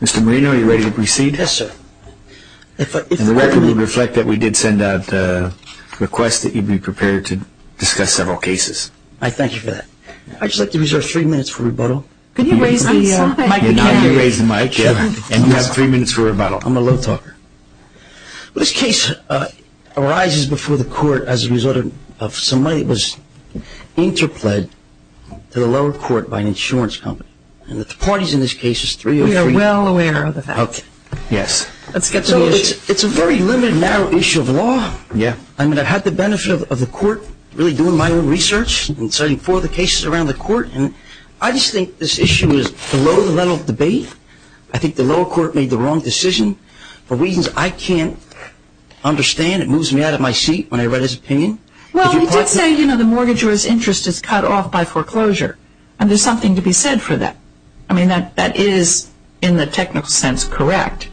Mr. Marino, are you ready to proceed? Yes, sir. The record would reflect that we did send out a request that you be prepared to discuss several cases. I thank you for that. I'd just like to reserve three minutes for rebuttal. Could you raise the mic again? I'll be raising the mic, yeah. And you have three minutes for rebuttal. I'm a low talker. This case arises before the court as a result of some money that was interpled to the lower court by an insurance company. And the parties in this case is three or three. We are well aware of that. Okay. Yes. Let's get to the issue. It's a very limited, narrow issue of law. Yeah. I mean, I've had the benefit of the court really doing my own research and studying four of the cases around the court. And I just think this issue is below the level of debate. I think the lower court made the wrong decision for reasons I can't understand. It moves me out of my seat when I read his opinion. Well, he did say, you know, the mortgagor's interest is cut off by foreclosure. And there's something to be said for that. I mean, that is in the technical sense correct.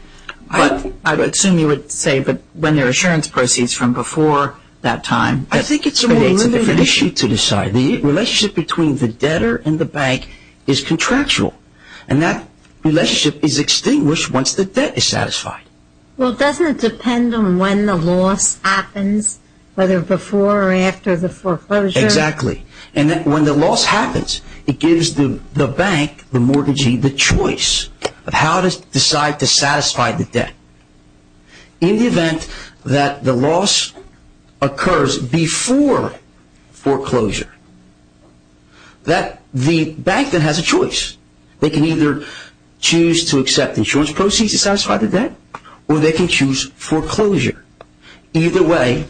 I would assume you would say when there are insurance proceeds from before that time. I think it's a more limited issue to decide. The relationship between the debtor and the bank is contractual. And that relationship is extinguished once the debt is satisfied. Well, doesn't it depend on when the loss happens, whether before or after the foreclosure? Exactly. And when the loss happens, it gives the bank, the mortgagee, the choice of how to decide to satisfy the debt. In the event that the loss occurs before foreclosure, the bank then has a choice. They can either choose to accept insurance proceeds to satisfy the debt or they can choose foreclosure. Either way,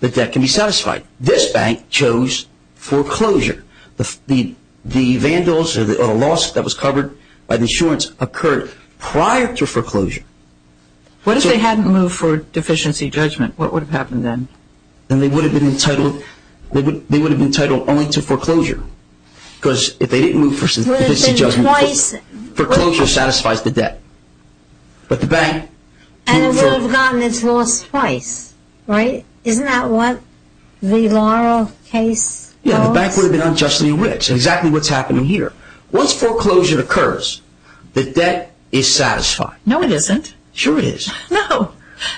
the debt can be satisfied. This bank chose foreclosure. The vandals or the loss that was covered by the insurance occurred prior to foreclosure. What if they hadn't moved for deficiency judgment? What would have happened then? Then they would have been entitled only to foreclosure. Because if they didn't move for deficiency judgment, foreclosure satisfies the debt. But the bank... And it would have gotten its loss twice, right? Isn't that what the Laurel case... Yeah, the bank would have been unjustly rich. Exactly what's happening here. Once foreclosure occurs, the debt is satisfied. No, it isn't. Sure it is. No.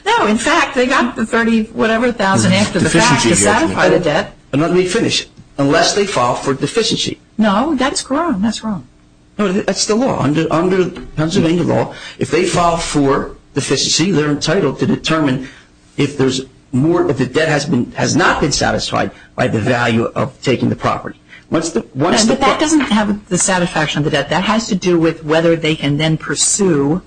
No, in fact, they got the 30-whatever-thousand after the fact to satisfy the debt. Let me finish. Unless they file for deficiency. No, that's wrong. That's wrong. That's the law. Under Pennsylvania law, if they file for deficiency, they're entitled to determine if the debt has not been satisfied by the value of taking the property. But that doesn't have the satisfaction of the debt. That has to do with whether they can then pursue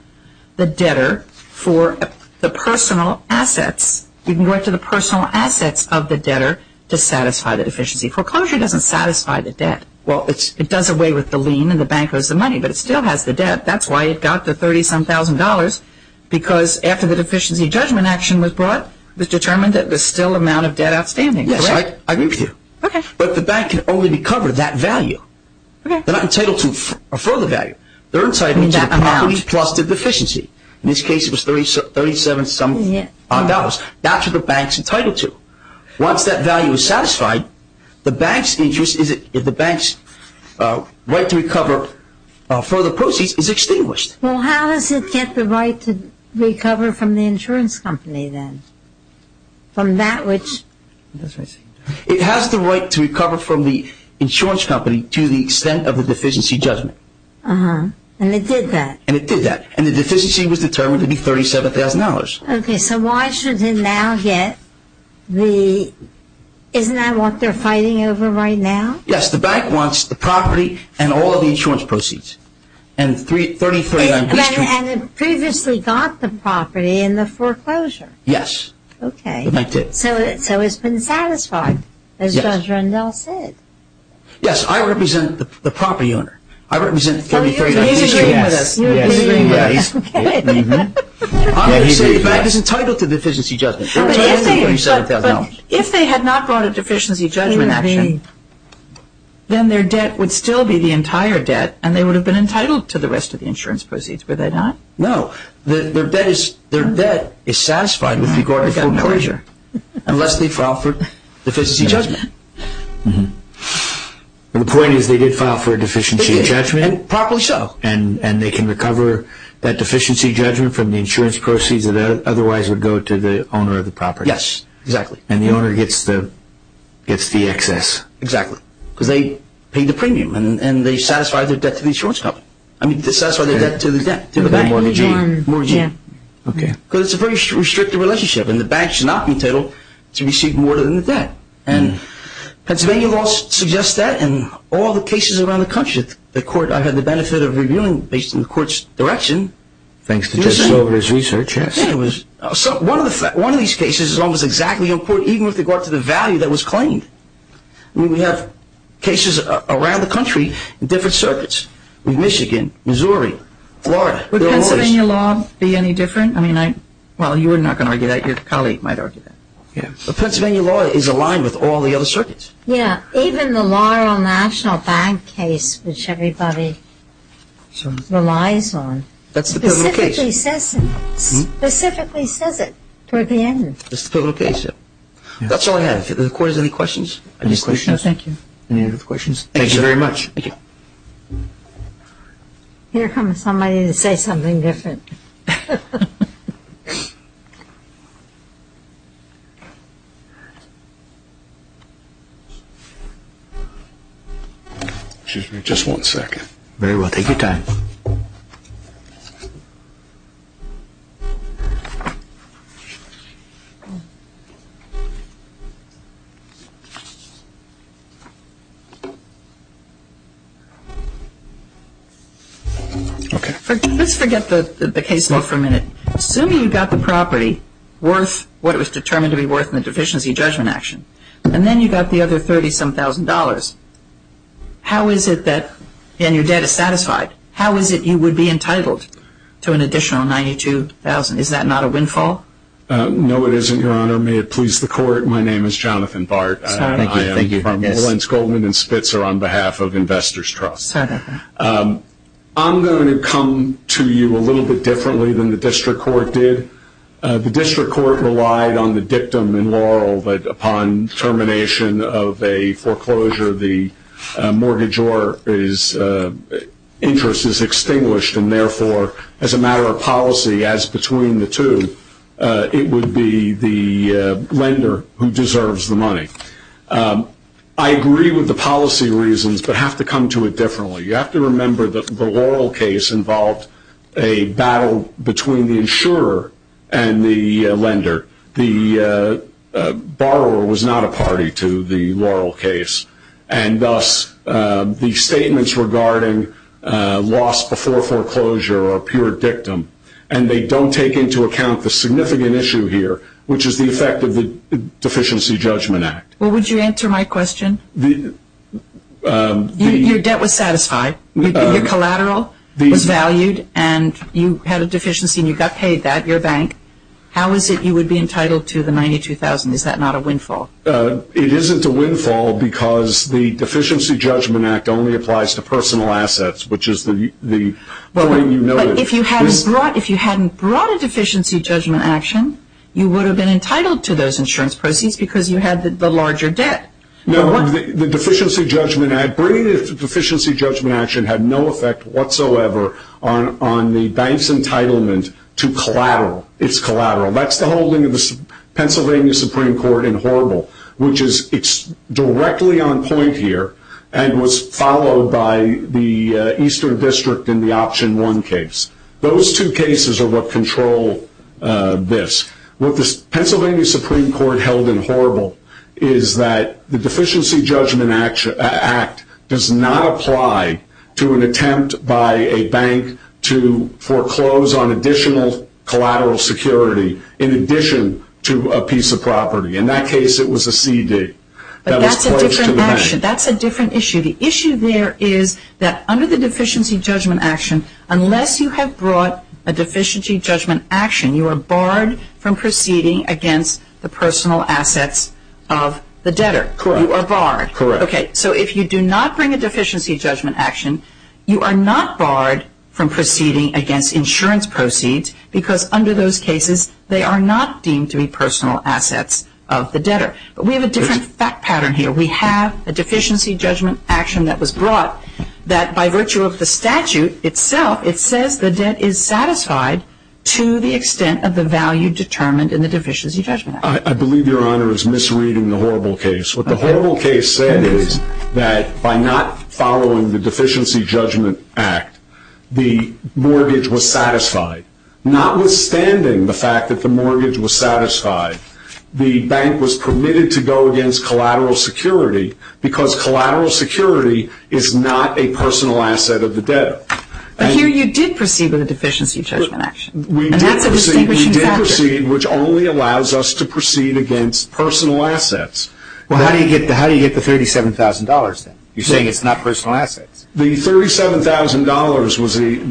the debtor for the personal assets. You can go back to the personal assets of the debtor to satisfy the deficiency. Foreclosure doesn't satisfy the debt. Well, it does away with the lien and the bank owes the money, but it still has the debt. That's why it got the 30-some-thousand dollars, because after the deficiency judgment action was brought, it was determined that there's still an amount of debt outstanding, correct? Yes, I agree with you. Okay. But the bank can only recover that value. They're not entitled to a further value. They're entitled to the property plus the deficiency. In this case, it was 37-some-odd dollars. That's what the bank's entitled to. Once that value is satisfied, the bank's interest, if the bank's right to recover further proceeds, is extinguished. Well, how does it get the right to recover from the insurance company then? From that which? It has the right to recover from the insurance company to the extent of the deficiency judgment. And it did that? And it did that. And the deficiency was determined to be 37-some-thousand dollars. Okay. So why should it now get the – isn't that what they're fighting over right now? Yes. The bank wants the property and all of the insurance proceeds. And 33-some-thousand dollars. And it previously got the property in the foreclosure. Yes. Okay. So it's been satisfied, as Judge Rendell said. Yes. I represent the property owner. I represent 33-some-thousand dollars. He's agreeing with us. You're agreeing with us. Okay. Obviously, the bank is entitled to the deficiency judgment. But if they had not brought a deficiency judgment action, then their debt would still be the entire debt, and they would have been entitled to the rest of the insurance proceeds, would they not? No. Their debt is satisfied with regard to foreclosure unless they file for deficiency judgment. And the point is they did file for a deficiency judgment? Properly so. And they can recover that deficiency judgment from the insurance proceeds that otherwise would go to the owner of the property. Yes. Exactly. And the owner gets the excess. Exactly. Because they paid the premium, and they satisfied their debt to the insurance company. I mean, they satisfied their debt to the bank. Mortgage loan. Mortgage loan. Okay. Because it's a very restrictive relationship, and the bank should not be entitled to receive more than the debt. And Pennsylvania law suggests that in all the cases around the country. I had the benefit of reviewing based on the court's direction. Thanks to Judge Slover's research. Yes. One of these cases is almost exactly important even with regard to the value that was claimed. I mean, we have cases around the country in different circuits. In Michigan, Missouri, Florida. Would Pennsylvania law be any different? Well, you were not going to argue that. Your colleague might argue that. Yeah. But Pennsylvania law is aligned with all the other circuits. Yeah. Even the Laurel National Bank case, which everybody relies on. That's the pivotal case. Specifically says it toward the end. That's the pivotal case, yeah. That's all I have. If the court has any questions? Any questions? No, thank you. Any other questions? Thank you very much. Thank you. Here comes somebody to say something different. Excuse me just one second. Very well. Take your time. Okay. Let's forget the case law for a minute. Assuming you got the property worth what it was determined to be worth in the deficiency judgment action, and then you got the other $30-some-thousand, how is it that, and your debt is satisfied, how is it you would be entitled to an additional $92,000? Is that not a windfall? No, it isn't, Your Honor. May it please the court. My name is Jonathan Bart. I am. I thank you for this. I'm Lawrence Goldman in Spitzer on behalf of Investors Trust. I'm going to come to you a little bit differently than the district court did. The district court relied on the dictum in Laurel that upon termination of a foreclosure, the mortgage interest is extinguished, and, therefore, as a matter of policy, as between the two, it would be the lender who deserves the money. I agree with the policy reasons but have to come to it differently. You have to remember that the Laurel case involved a battle between the insurer and the lender. The borrower was not a party to the Laurel case, and thus the statements regarding loss before foreclosure are pure dictum, and they don't take into account the significant issue here, which is the effect of the Deficiency Judgment Act. Well, would you answer my question? Your debt was satisfied. Your collateral was valued, and you had a deficiency, and you got paid that, your bank. How is it you would be entitled to the $92,000? Is that not a windfall? It isn't a windfall because the Deficiency Judgment Act only applies to personal assets, which is the way you know it. If you hadn't brought a Deficiency Judgment Act, you would have been entitled to those insurance proceeds because you had the larger debt. No, the Deficiency Judgment Act had no effect whatsoever on the bank's entitlement to collateral. It's collateral. That's the holding of the Pennsylvania Supreme Court in Horrible, which is directly on point here and was followed by the Eastern District in the Option 1 case. Those two cases are what control this. What the Pennsylvania Supreme Court held in Horrible is that the Deficiency Judgment Act does not apply to an attempt by a bank to foreclose on additional collateral security in addition to a piece of property. In that case, it was a CD that was closed to the bank. But that's a different action. That's a different issue. The issue there is that under the Deficiency Judgment Act, unless you have brought a Deficiency Judgment Act, you are barred from proceeding against the personal assets of the debtor. Correct. You are barred. Correct. Okay, so if you do not bring a Deficiency Judgment Act, you are not barred from proceeding against insurance proceeds because under those cases they are not deemed to be personal assets of the debtor. But we have a different fact pattern here. We have a Deficiency Judgment Action that was brought that by virtue of the statute itself, it says the debt is satisfied to the extent of the value determined in the Deficiency Judgment Act. I believe Your Honor is misreading the Horrible case. What the Horrible case said is that by not following the Deficiency Judgment Act, the mortgage was satisfied. Notwithstanding the fact that the mortgage was satisfied, the bank was permitted to go against collateral security because collateral security is not a personal asset of the debtor. But here you did proceed with a Deficiency Judgment Action, and that's a distinguishing factor. We did proceed, which only allows us to proceed against personal assets. Well, how do you get the $37,000 then? You're saying it's not personal assets. The $37,000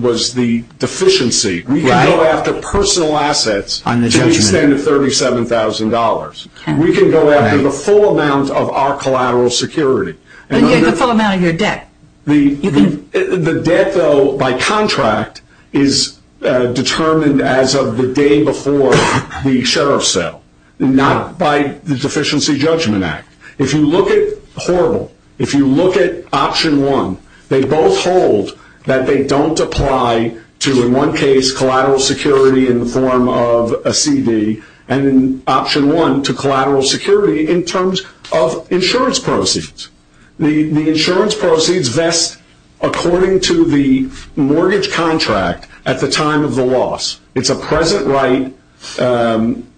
was the deficiency. We can go after personal assets to the extent of $37,000. We can go after the full amount of our collateral security. The full amount of your debt. The debt, though, by contract is determined as of the day before the sheriff's sale, not by the Deficiency Judgment Act. If you look at Horrible, if you look at Option 1, they both hold that they don't apply to, in one case, collateral security in the form of a CD, and in Option 1, to collateral security in terms of insurance proceeds. The insurance proceeds vest according to the mortgage contract at the time of the loss. It's a present right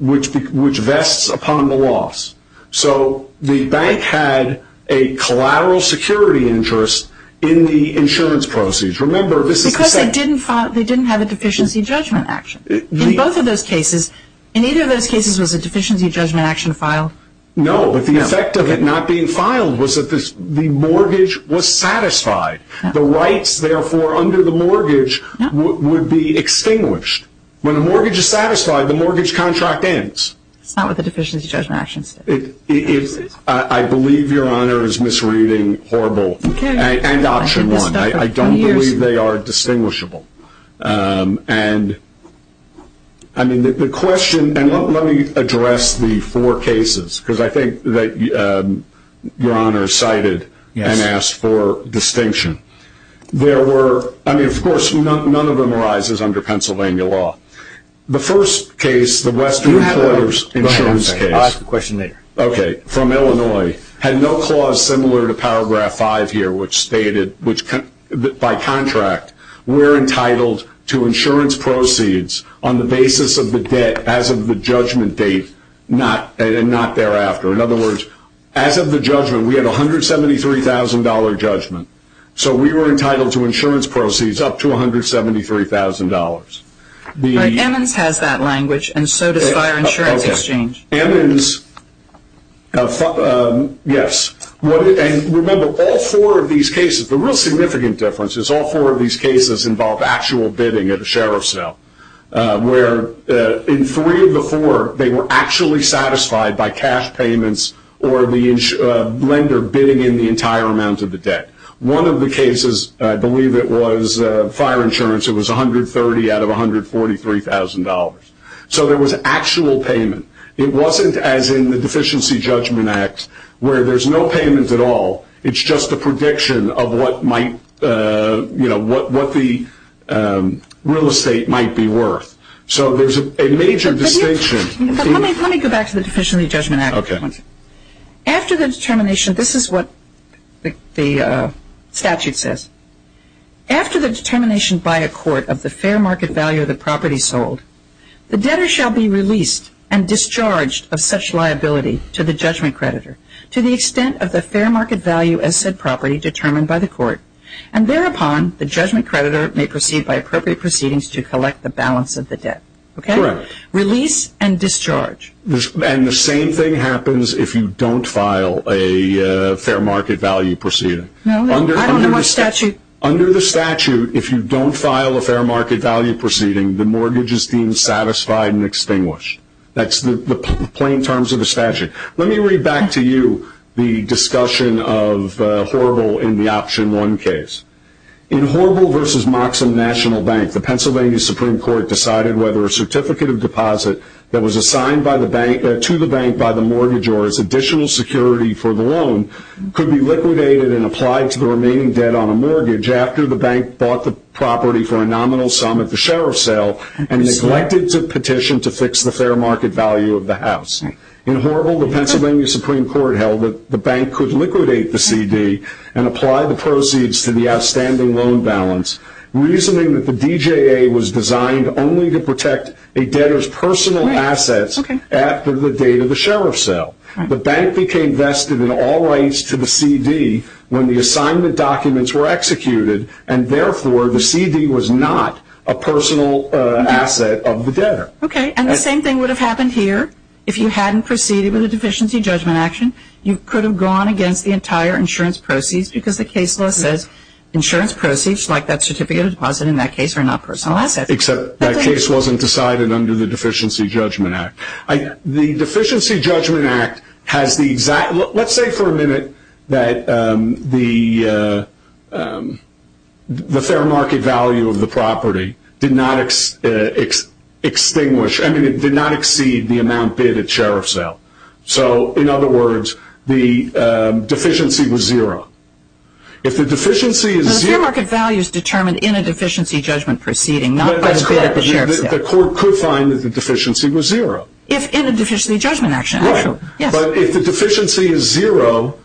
which vests upon the loss. So the bank had a collateral security interest in the insurance proceeds. Remember, this is the same. Because they didn't have a Deficiency Judgment Act. In both of those cases, in either of those cases, was a Deficiency Judgment Act filed? No, but the effect of it not being filed was that the mortgage was satisfied. The rights, therefore, under the mortgage would be extinguished. When a mortgage is satisfied, the mortgage contract ends. That's not what the Deficiency Judgment Act says. I believe Your Honor is misreading Horrible and Option 1. I don't believe they are distinguishable. I mean, the question, and let me address the four cases, because I think that Your Honor cited and asked for distinction. There were, I mean, of course, none of them arises under Pennsylvania law. The first case, the Western Employers Insurance case from Illinois, had no clause similar to Paragraph 5 here, which stated, by contract, we're entitled to insurance proceeds on the basis of the debt as of the judgment date and not thereafter. In other words, as of the judgment, we had a $173,000 judgment. So we were entitled to insurance proceeds up to $173,000. But Emmons has that language, and so does Fire Insurance Exchange. Okay. Emmons, yes. And remember, all four of these cases, the real significant difference is all four of these cases involved actual bidding at a sheriff's cell, where in three of the four, they were actually satisfied by cash payments or the lender bidding in the entire amount of the debt. One of the cases, I believe it was Fire Insurance, it was $130,000 out of $143,000. So there was actual payment. It wasn't as in the Deficiency Judgment Act, where there's no payment at all. It's just a prediction of what might, you know, what the real estate might be worth. So there's a major distinction. Let me go back to the Deficiency Judgment Act. Okay. After the determination, this is what the statute says. After the determination by a court of the fair market value of the property sold, the debtor shall be released and discharged of such liability to the judgment creditor to the extent of the fair market value as said property determined by the court. And thereupon, the judgment creditor may proceed by appropriate proceedings to collect the balance of the debt. Release and discharge. And the same thing happens if you don't file a fair market value proceeding. No, I don't know what statute. Under the statute, if you don't file a fair market value proceeding, the mortgage is deemed satisfied and extinguished. That's the plain terms of the statute. Let me read back to you the discussion of Horble in the Option 1 case. In Horble v. Moxham National Bank, the Pennsylvania Supreme Court decided whether a certificate of deposit that was assigned to the bank by the mortgage or as additional security for the loan could be liquidated and applied to the remaining debt on a mortgage after the bank bought the property for a nominal sum at the sheriff's sale and neglected to petition to fix the fair market value of the house. In Horble, the Pennsylvania Supreme Court held that the bank could liquidate the CD and apply the proceeds to the outstanding loan balance, reasoning that the DJA was designed only to protect a debtor's personal assets after the date of the sheriff's sale. The bank became vested in all rights to the CD when the assignment documents were executed, and therefore the CD was not a personal asset of the debtor. Okay, and the same thing would have happened here if you hadn't proceeded with a deficiency judgment action. You could have gone against the entire insurance proceeds because the case law says insurance proceeds, like that certificate of deposit in that case, are not personal assets. Except that case wasn't decided under the Deficiency Judgment Act. The Deficiency Judgment Act has the exact – let's say for a minute that the fair market value of the property did not extinguish – I mean, it did not exceed the amount bid at sheriff's sale. So, in other words, the deficiency was zero. If the deficiency is zero – The fair market value is determined in a deficiency judgment proceeding, not by the bid at the sheriff's sale. That's correct. The court could find that the deficiency was zero. If in a deficiency judgment action, actually. Right. But if the deficiency is zero,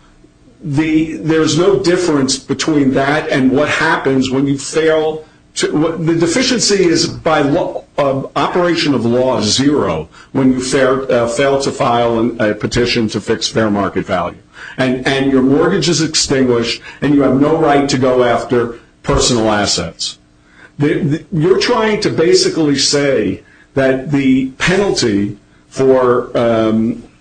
there's no difference between that and what happens when you fail – The deficiency is, by operation of law, zero when you fail to file a petition to fix fair market value. And your mortgage is extinguished, and you have no right to go after personal assets. You're trying to basically say that the penalty for –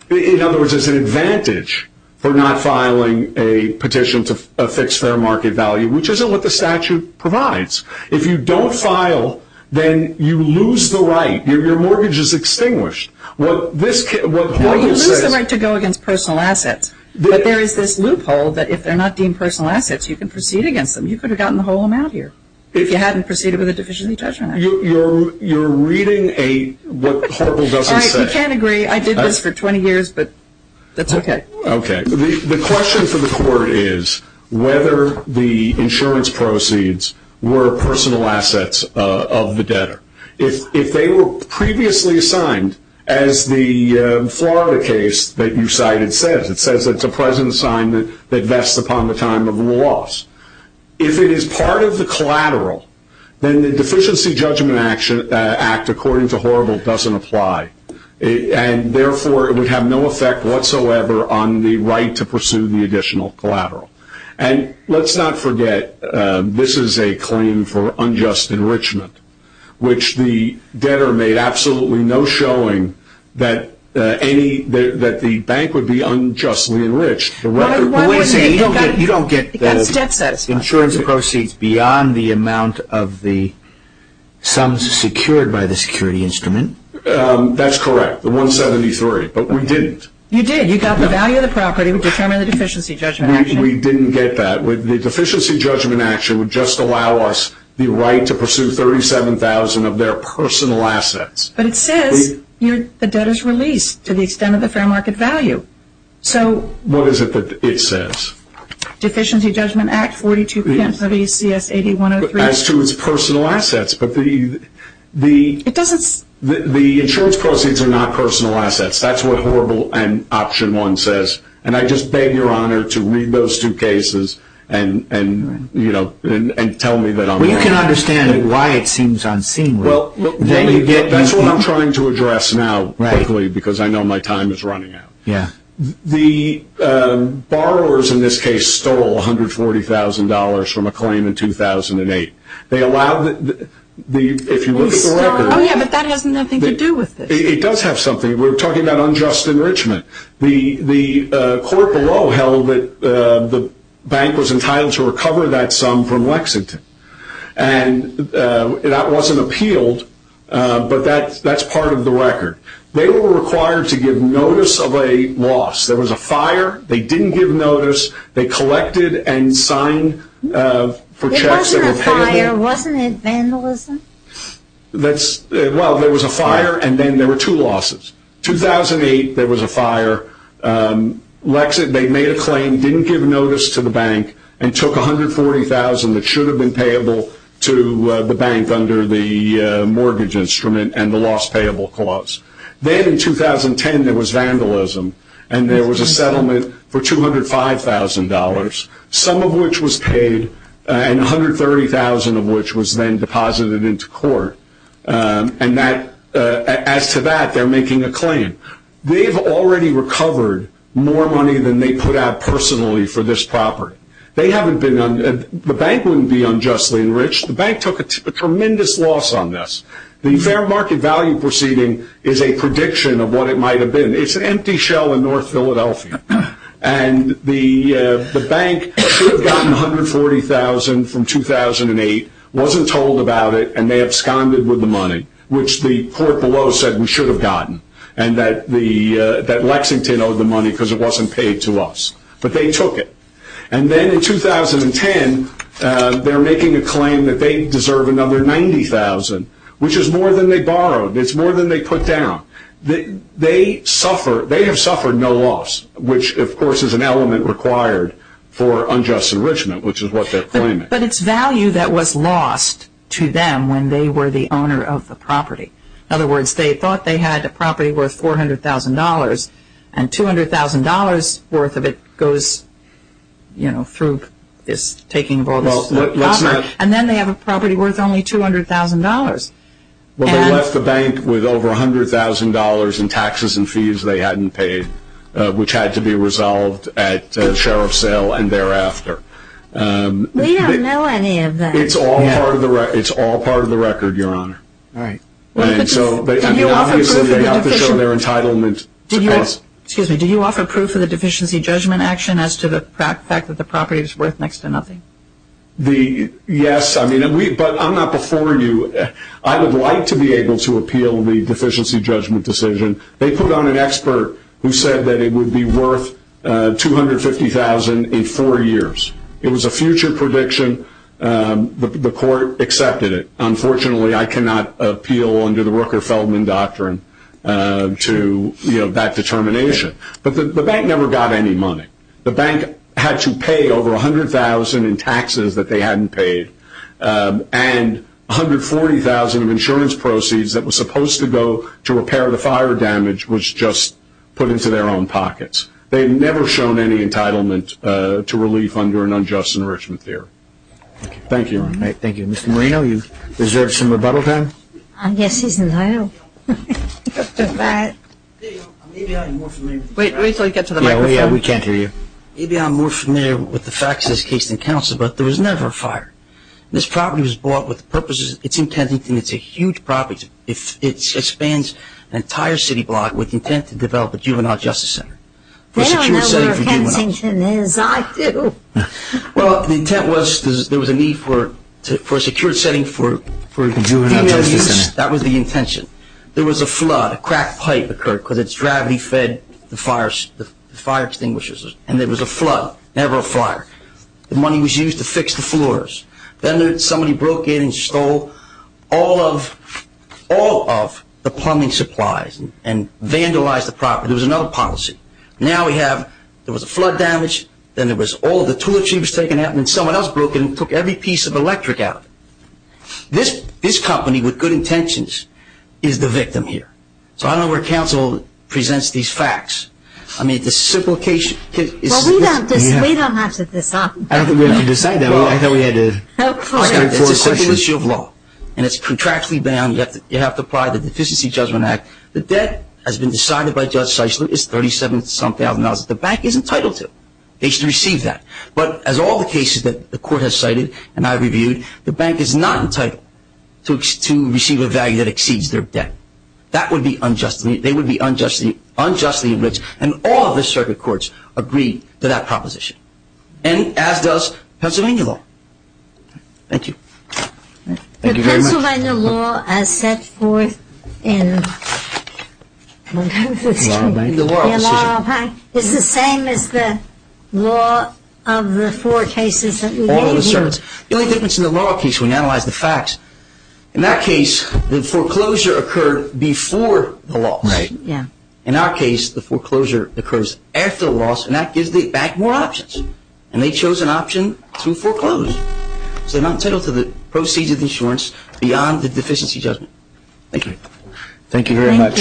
in other words, there's an advantage for not filing a petition to fix fair market value, which isn't what the statute provides. If you don't file, then you lose the right. Your mortgage is extinguished. What Horpel says – Well, you lose the right to go against personal assets. But there is this loophole that if they're not deemed personal assets, you can proceed against them. You could have gotten the whole amount here if you hadn't proceeded with a deficiency judgment action. You're reading what Horpel doesn't say. All right. We can't agree. I did this for 20 years, but that's okay. Okay. The question for the court is whether the insurance proceeds were personal assets of the debtor. If they were previously assigned, as the Florida case that you cited says, it says it's a present assignment that vests upon the time of the loss. If it is part of the collateral, then the deficiency judgment act according to Horpel doesn't apply. Therefore, it would have no effect whatsoever on the right to pursue the additional collateral. Let's not forget this is a claim for unjust enrichment, which the debtor made absolutely no showing that the bank would be unjustly enriched. You don't get the insurance proceeds beyond the amount of the sums secured by the security instrument. That's correct, the 173, but we didn't. You did. You got the value of the property. We determined the deficiency judgment action. We didn't get that. The deficiency judgment action would just allow us the right to pursue 37,000 of their personal assets. But it says the debtor's release to the extent of the fair market value. What is it that it says? Deficiency judgment act 42 p.m. WCS 80-103. As to its personal assets. It doesn't. The insurance proceeds are not personal assets. That's what Horpel and option one says. I just beg your honor to read those two cases and tell me that I'm wrong. You can understand why it seems unseemly. That's what I'm trying to address now quickly because I know my time is running out. The borrowers in this case stole $140,000 from a claim in 2008. They allowed the, if you look at the record. Oh, yeah, but that has nothing to do with this. It does have something. We're talking about unjust enrichment. The court below held that the bank was entitled to recover that sum from Lexington. And that wasn't appealed, but that's part of the record. They were required to give notice of a loss. There was a fire. They didn't give notice. They collected and signed for checks that were paid. It wasn't a fire. Wasn't it vandalism? Well, there was a fire, and then there were two losses. 2008, there was a fire. They made a claim, didn't give notice to the bank, and took $140,000 that should have been payable to the bank under the mortgage instrument and the loss payable clause. Then in 2010, there was vandalism. And there was a settlement for $205,000, some of which was paid, and $130,000 of which was then deposited into court. And that, as to that, they're making a claim. They've already recovered more money than they put out personally for this property. They haven't been, the bank wouldn't be unjustly enriched. The bank took a tremendous loss on this. The fair market value proceeding is a prediction of what it might have been. It's an empty shell in North Philadelphia. And the bank should have gotten $140,000 from 2008, wasn't told about it, and they absconded with the money, which the court below said we should have gotten, and that Lexington owed the money because it wasn't paid to us. But they took it. And then in 2010, they're making a claim that they deserve another $90,000, which is more than they borrowed. It's more than they put down. They suffer, they have suffered no loss, which of course is an element required for unjust enrichment, which is what they're claiming. But it's value that was lost to them when they were the owner of the property. In other words, they thought they had a property worth $400,000, and $200,000 worth of it goes, you know, through this taking of all this property. And then they have a property worth only $200,000. Well, they left the bank with over $100,000 in taxes and fees they hadn't paid, which had to be resolved at the sheriff's sale and thereafter. We don't know any of that. It's all part of the record, Your Honor. All right. And so obviously they have to show their entitlement to us. Excuse me, do you offer proof of the deficiency judgment action as to the fact that the property is worth next to nothing? Yes, but I'm not before you. I would like to be able to appeal the deficiency judgment decision. They put on an expert who said that it would be worth $250,000 in four years. It was a future prediction. The court accepted it. Unfortunately, I cannot appeal under the Rooker-Feldman doctrine to that determination. But the bank never got any money. The bank had to pay over $100,000 in taxes that they hadn't paid, and $140,000 of insurance proceeds that was supposed to go to repair the fire damage was just put into their own pockets. They had never shown any entitlement to relief under an unjust enrichment theory. Thank you. Thank you. Mr. Moreno, is there some rebuttal time? I guess he's entitled. Mr. Matt. Wait until you get to the microphone. Yeah, we can't hear you. Maybe I'm more familiar with the facts of this case than counsel, but there was never a fire. This property was bought with the purposes, it's in Kensington. It's a huge property. It spans an entire city block with intent to develop a juvenile justice center. They don't know where Kensington is. I do. Well, the intent was there was a need for a secure setting for juvenile justice center. That was the intention. There was a flood. A cracked pipe occurred because its gravity fed the fire extinguishers, and there was a flood, never a fire. The money was used to fix the floors. Then somebody broke in and stole all of the plumbing supplies and vandalized the property. There was another policy. Now we have there was a flood damage, then there was all of the tooletry was taken out, and then someone else broke in and took every piece of electric out. This company with good intentions is the victim here. So I don't know where counsel presents these facts. I mean, the simplification. Well, we don't have to decide that. I don't think we have to decide that. I thought we had a straightforward session. It's a simple issue of law, and it's contractually bound. You have to apply the Deficiency Judgment Act. The debt has been decided by Judge Seisler is $37,000. The bank is entitled to it. They should receive that. But as all the cases that the court has cited and I've reviewed, the bank is not entitled to receive a value that exceeds their debt. That would be unjustly, they would be unjustly enriched, and all of the circuit courts agree to that proposition, and as does Pennsylvania law. Thank you. Thank you very much. Pennsylvania law, as set forth in the law, is the same as the law of the four cases that we gave you. The only difference in the law case, when you analyze the facts, in that case, the foreclosure occurred before the loss. In our case, the foreclosure occurs after the loss, and that gives the bank more options, and they chose an option to foreclose. So they're not entitled to the proceeds of insurance beyond the Deficiency Judgment. Thank you. Thank you very much.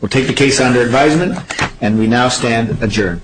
We'll take the case under advisement, and we now stand adjourned.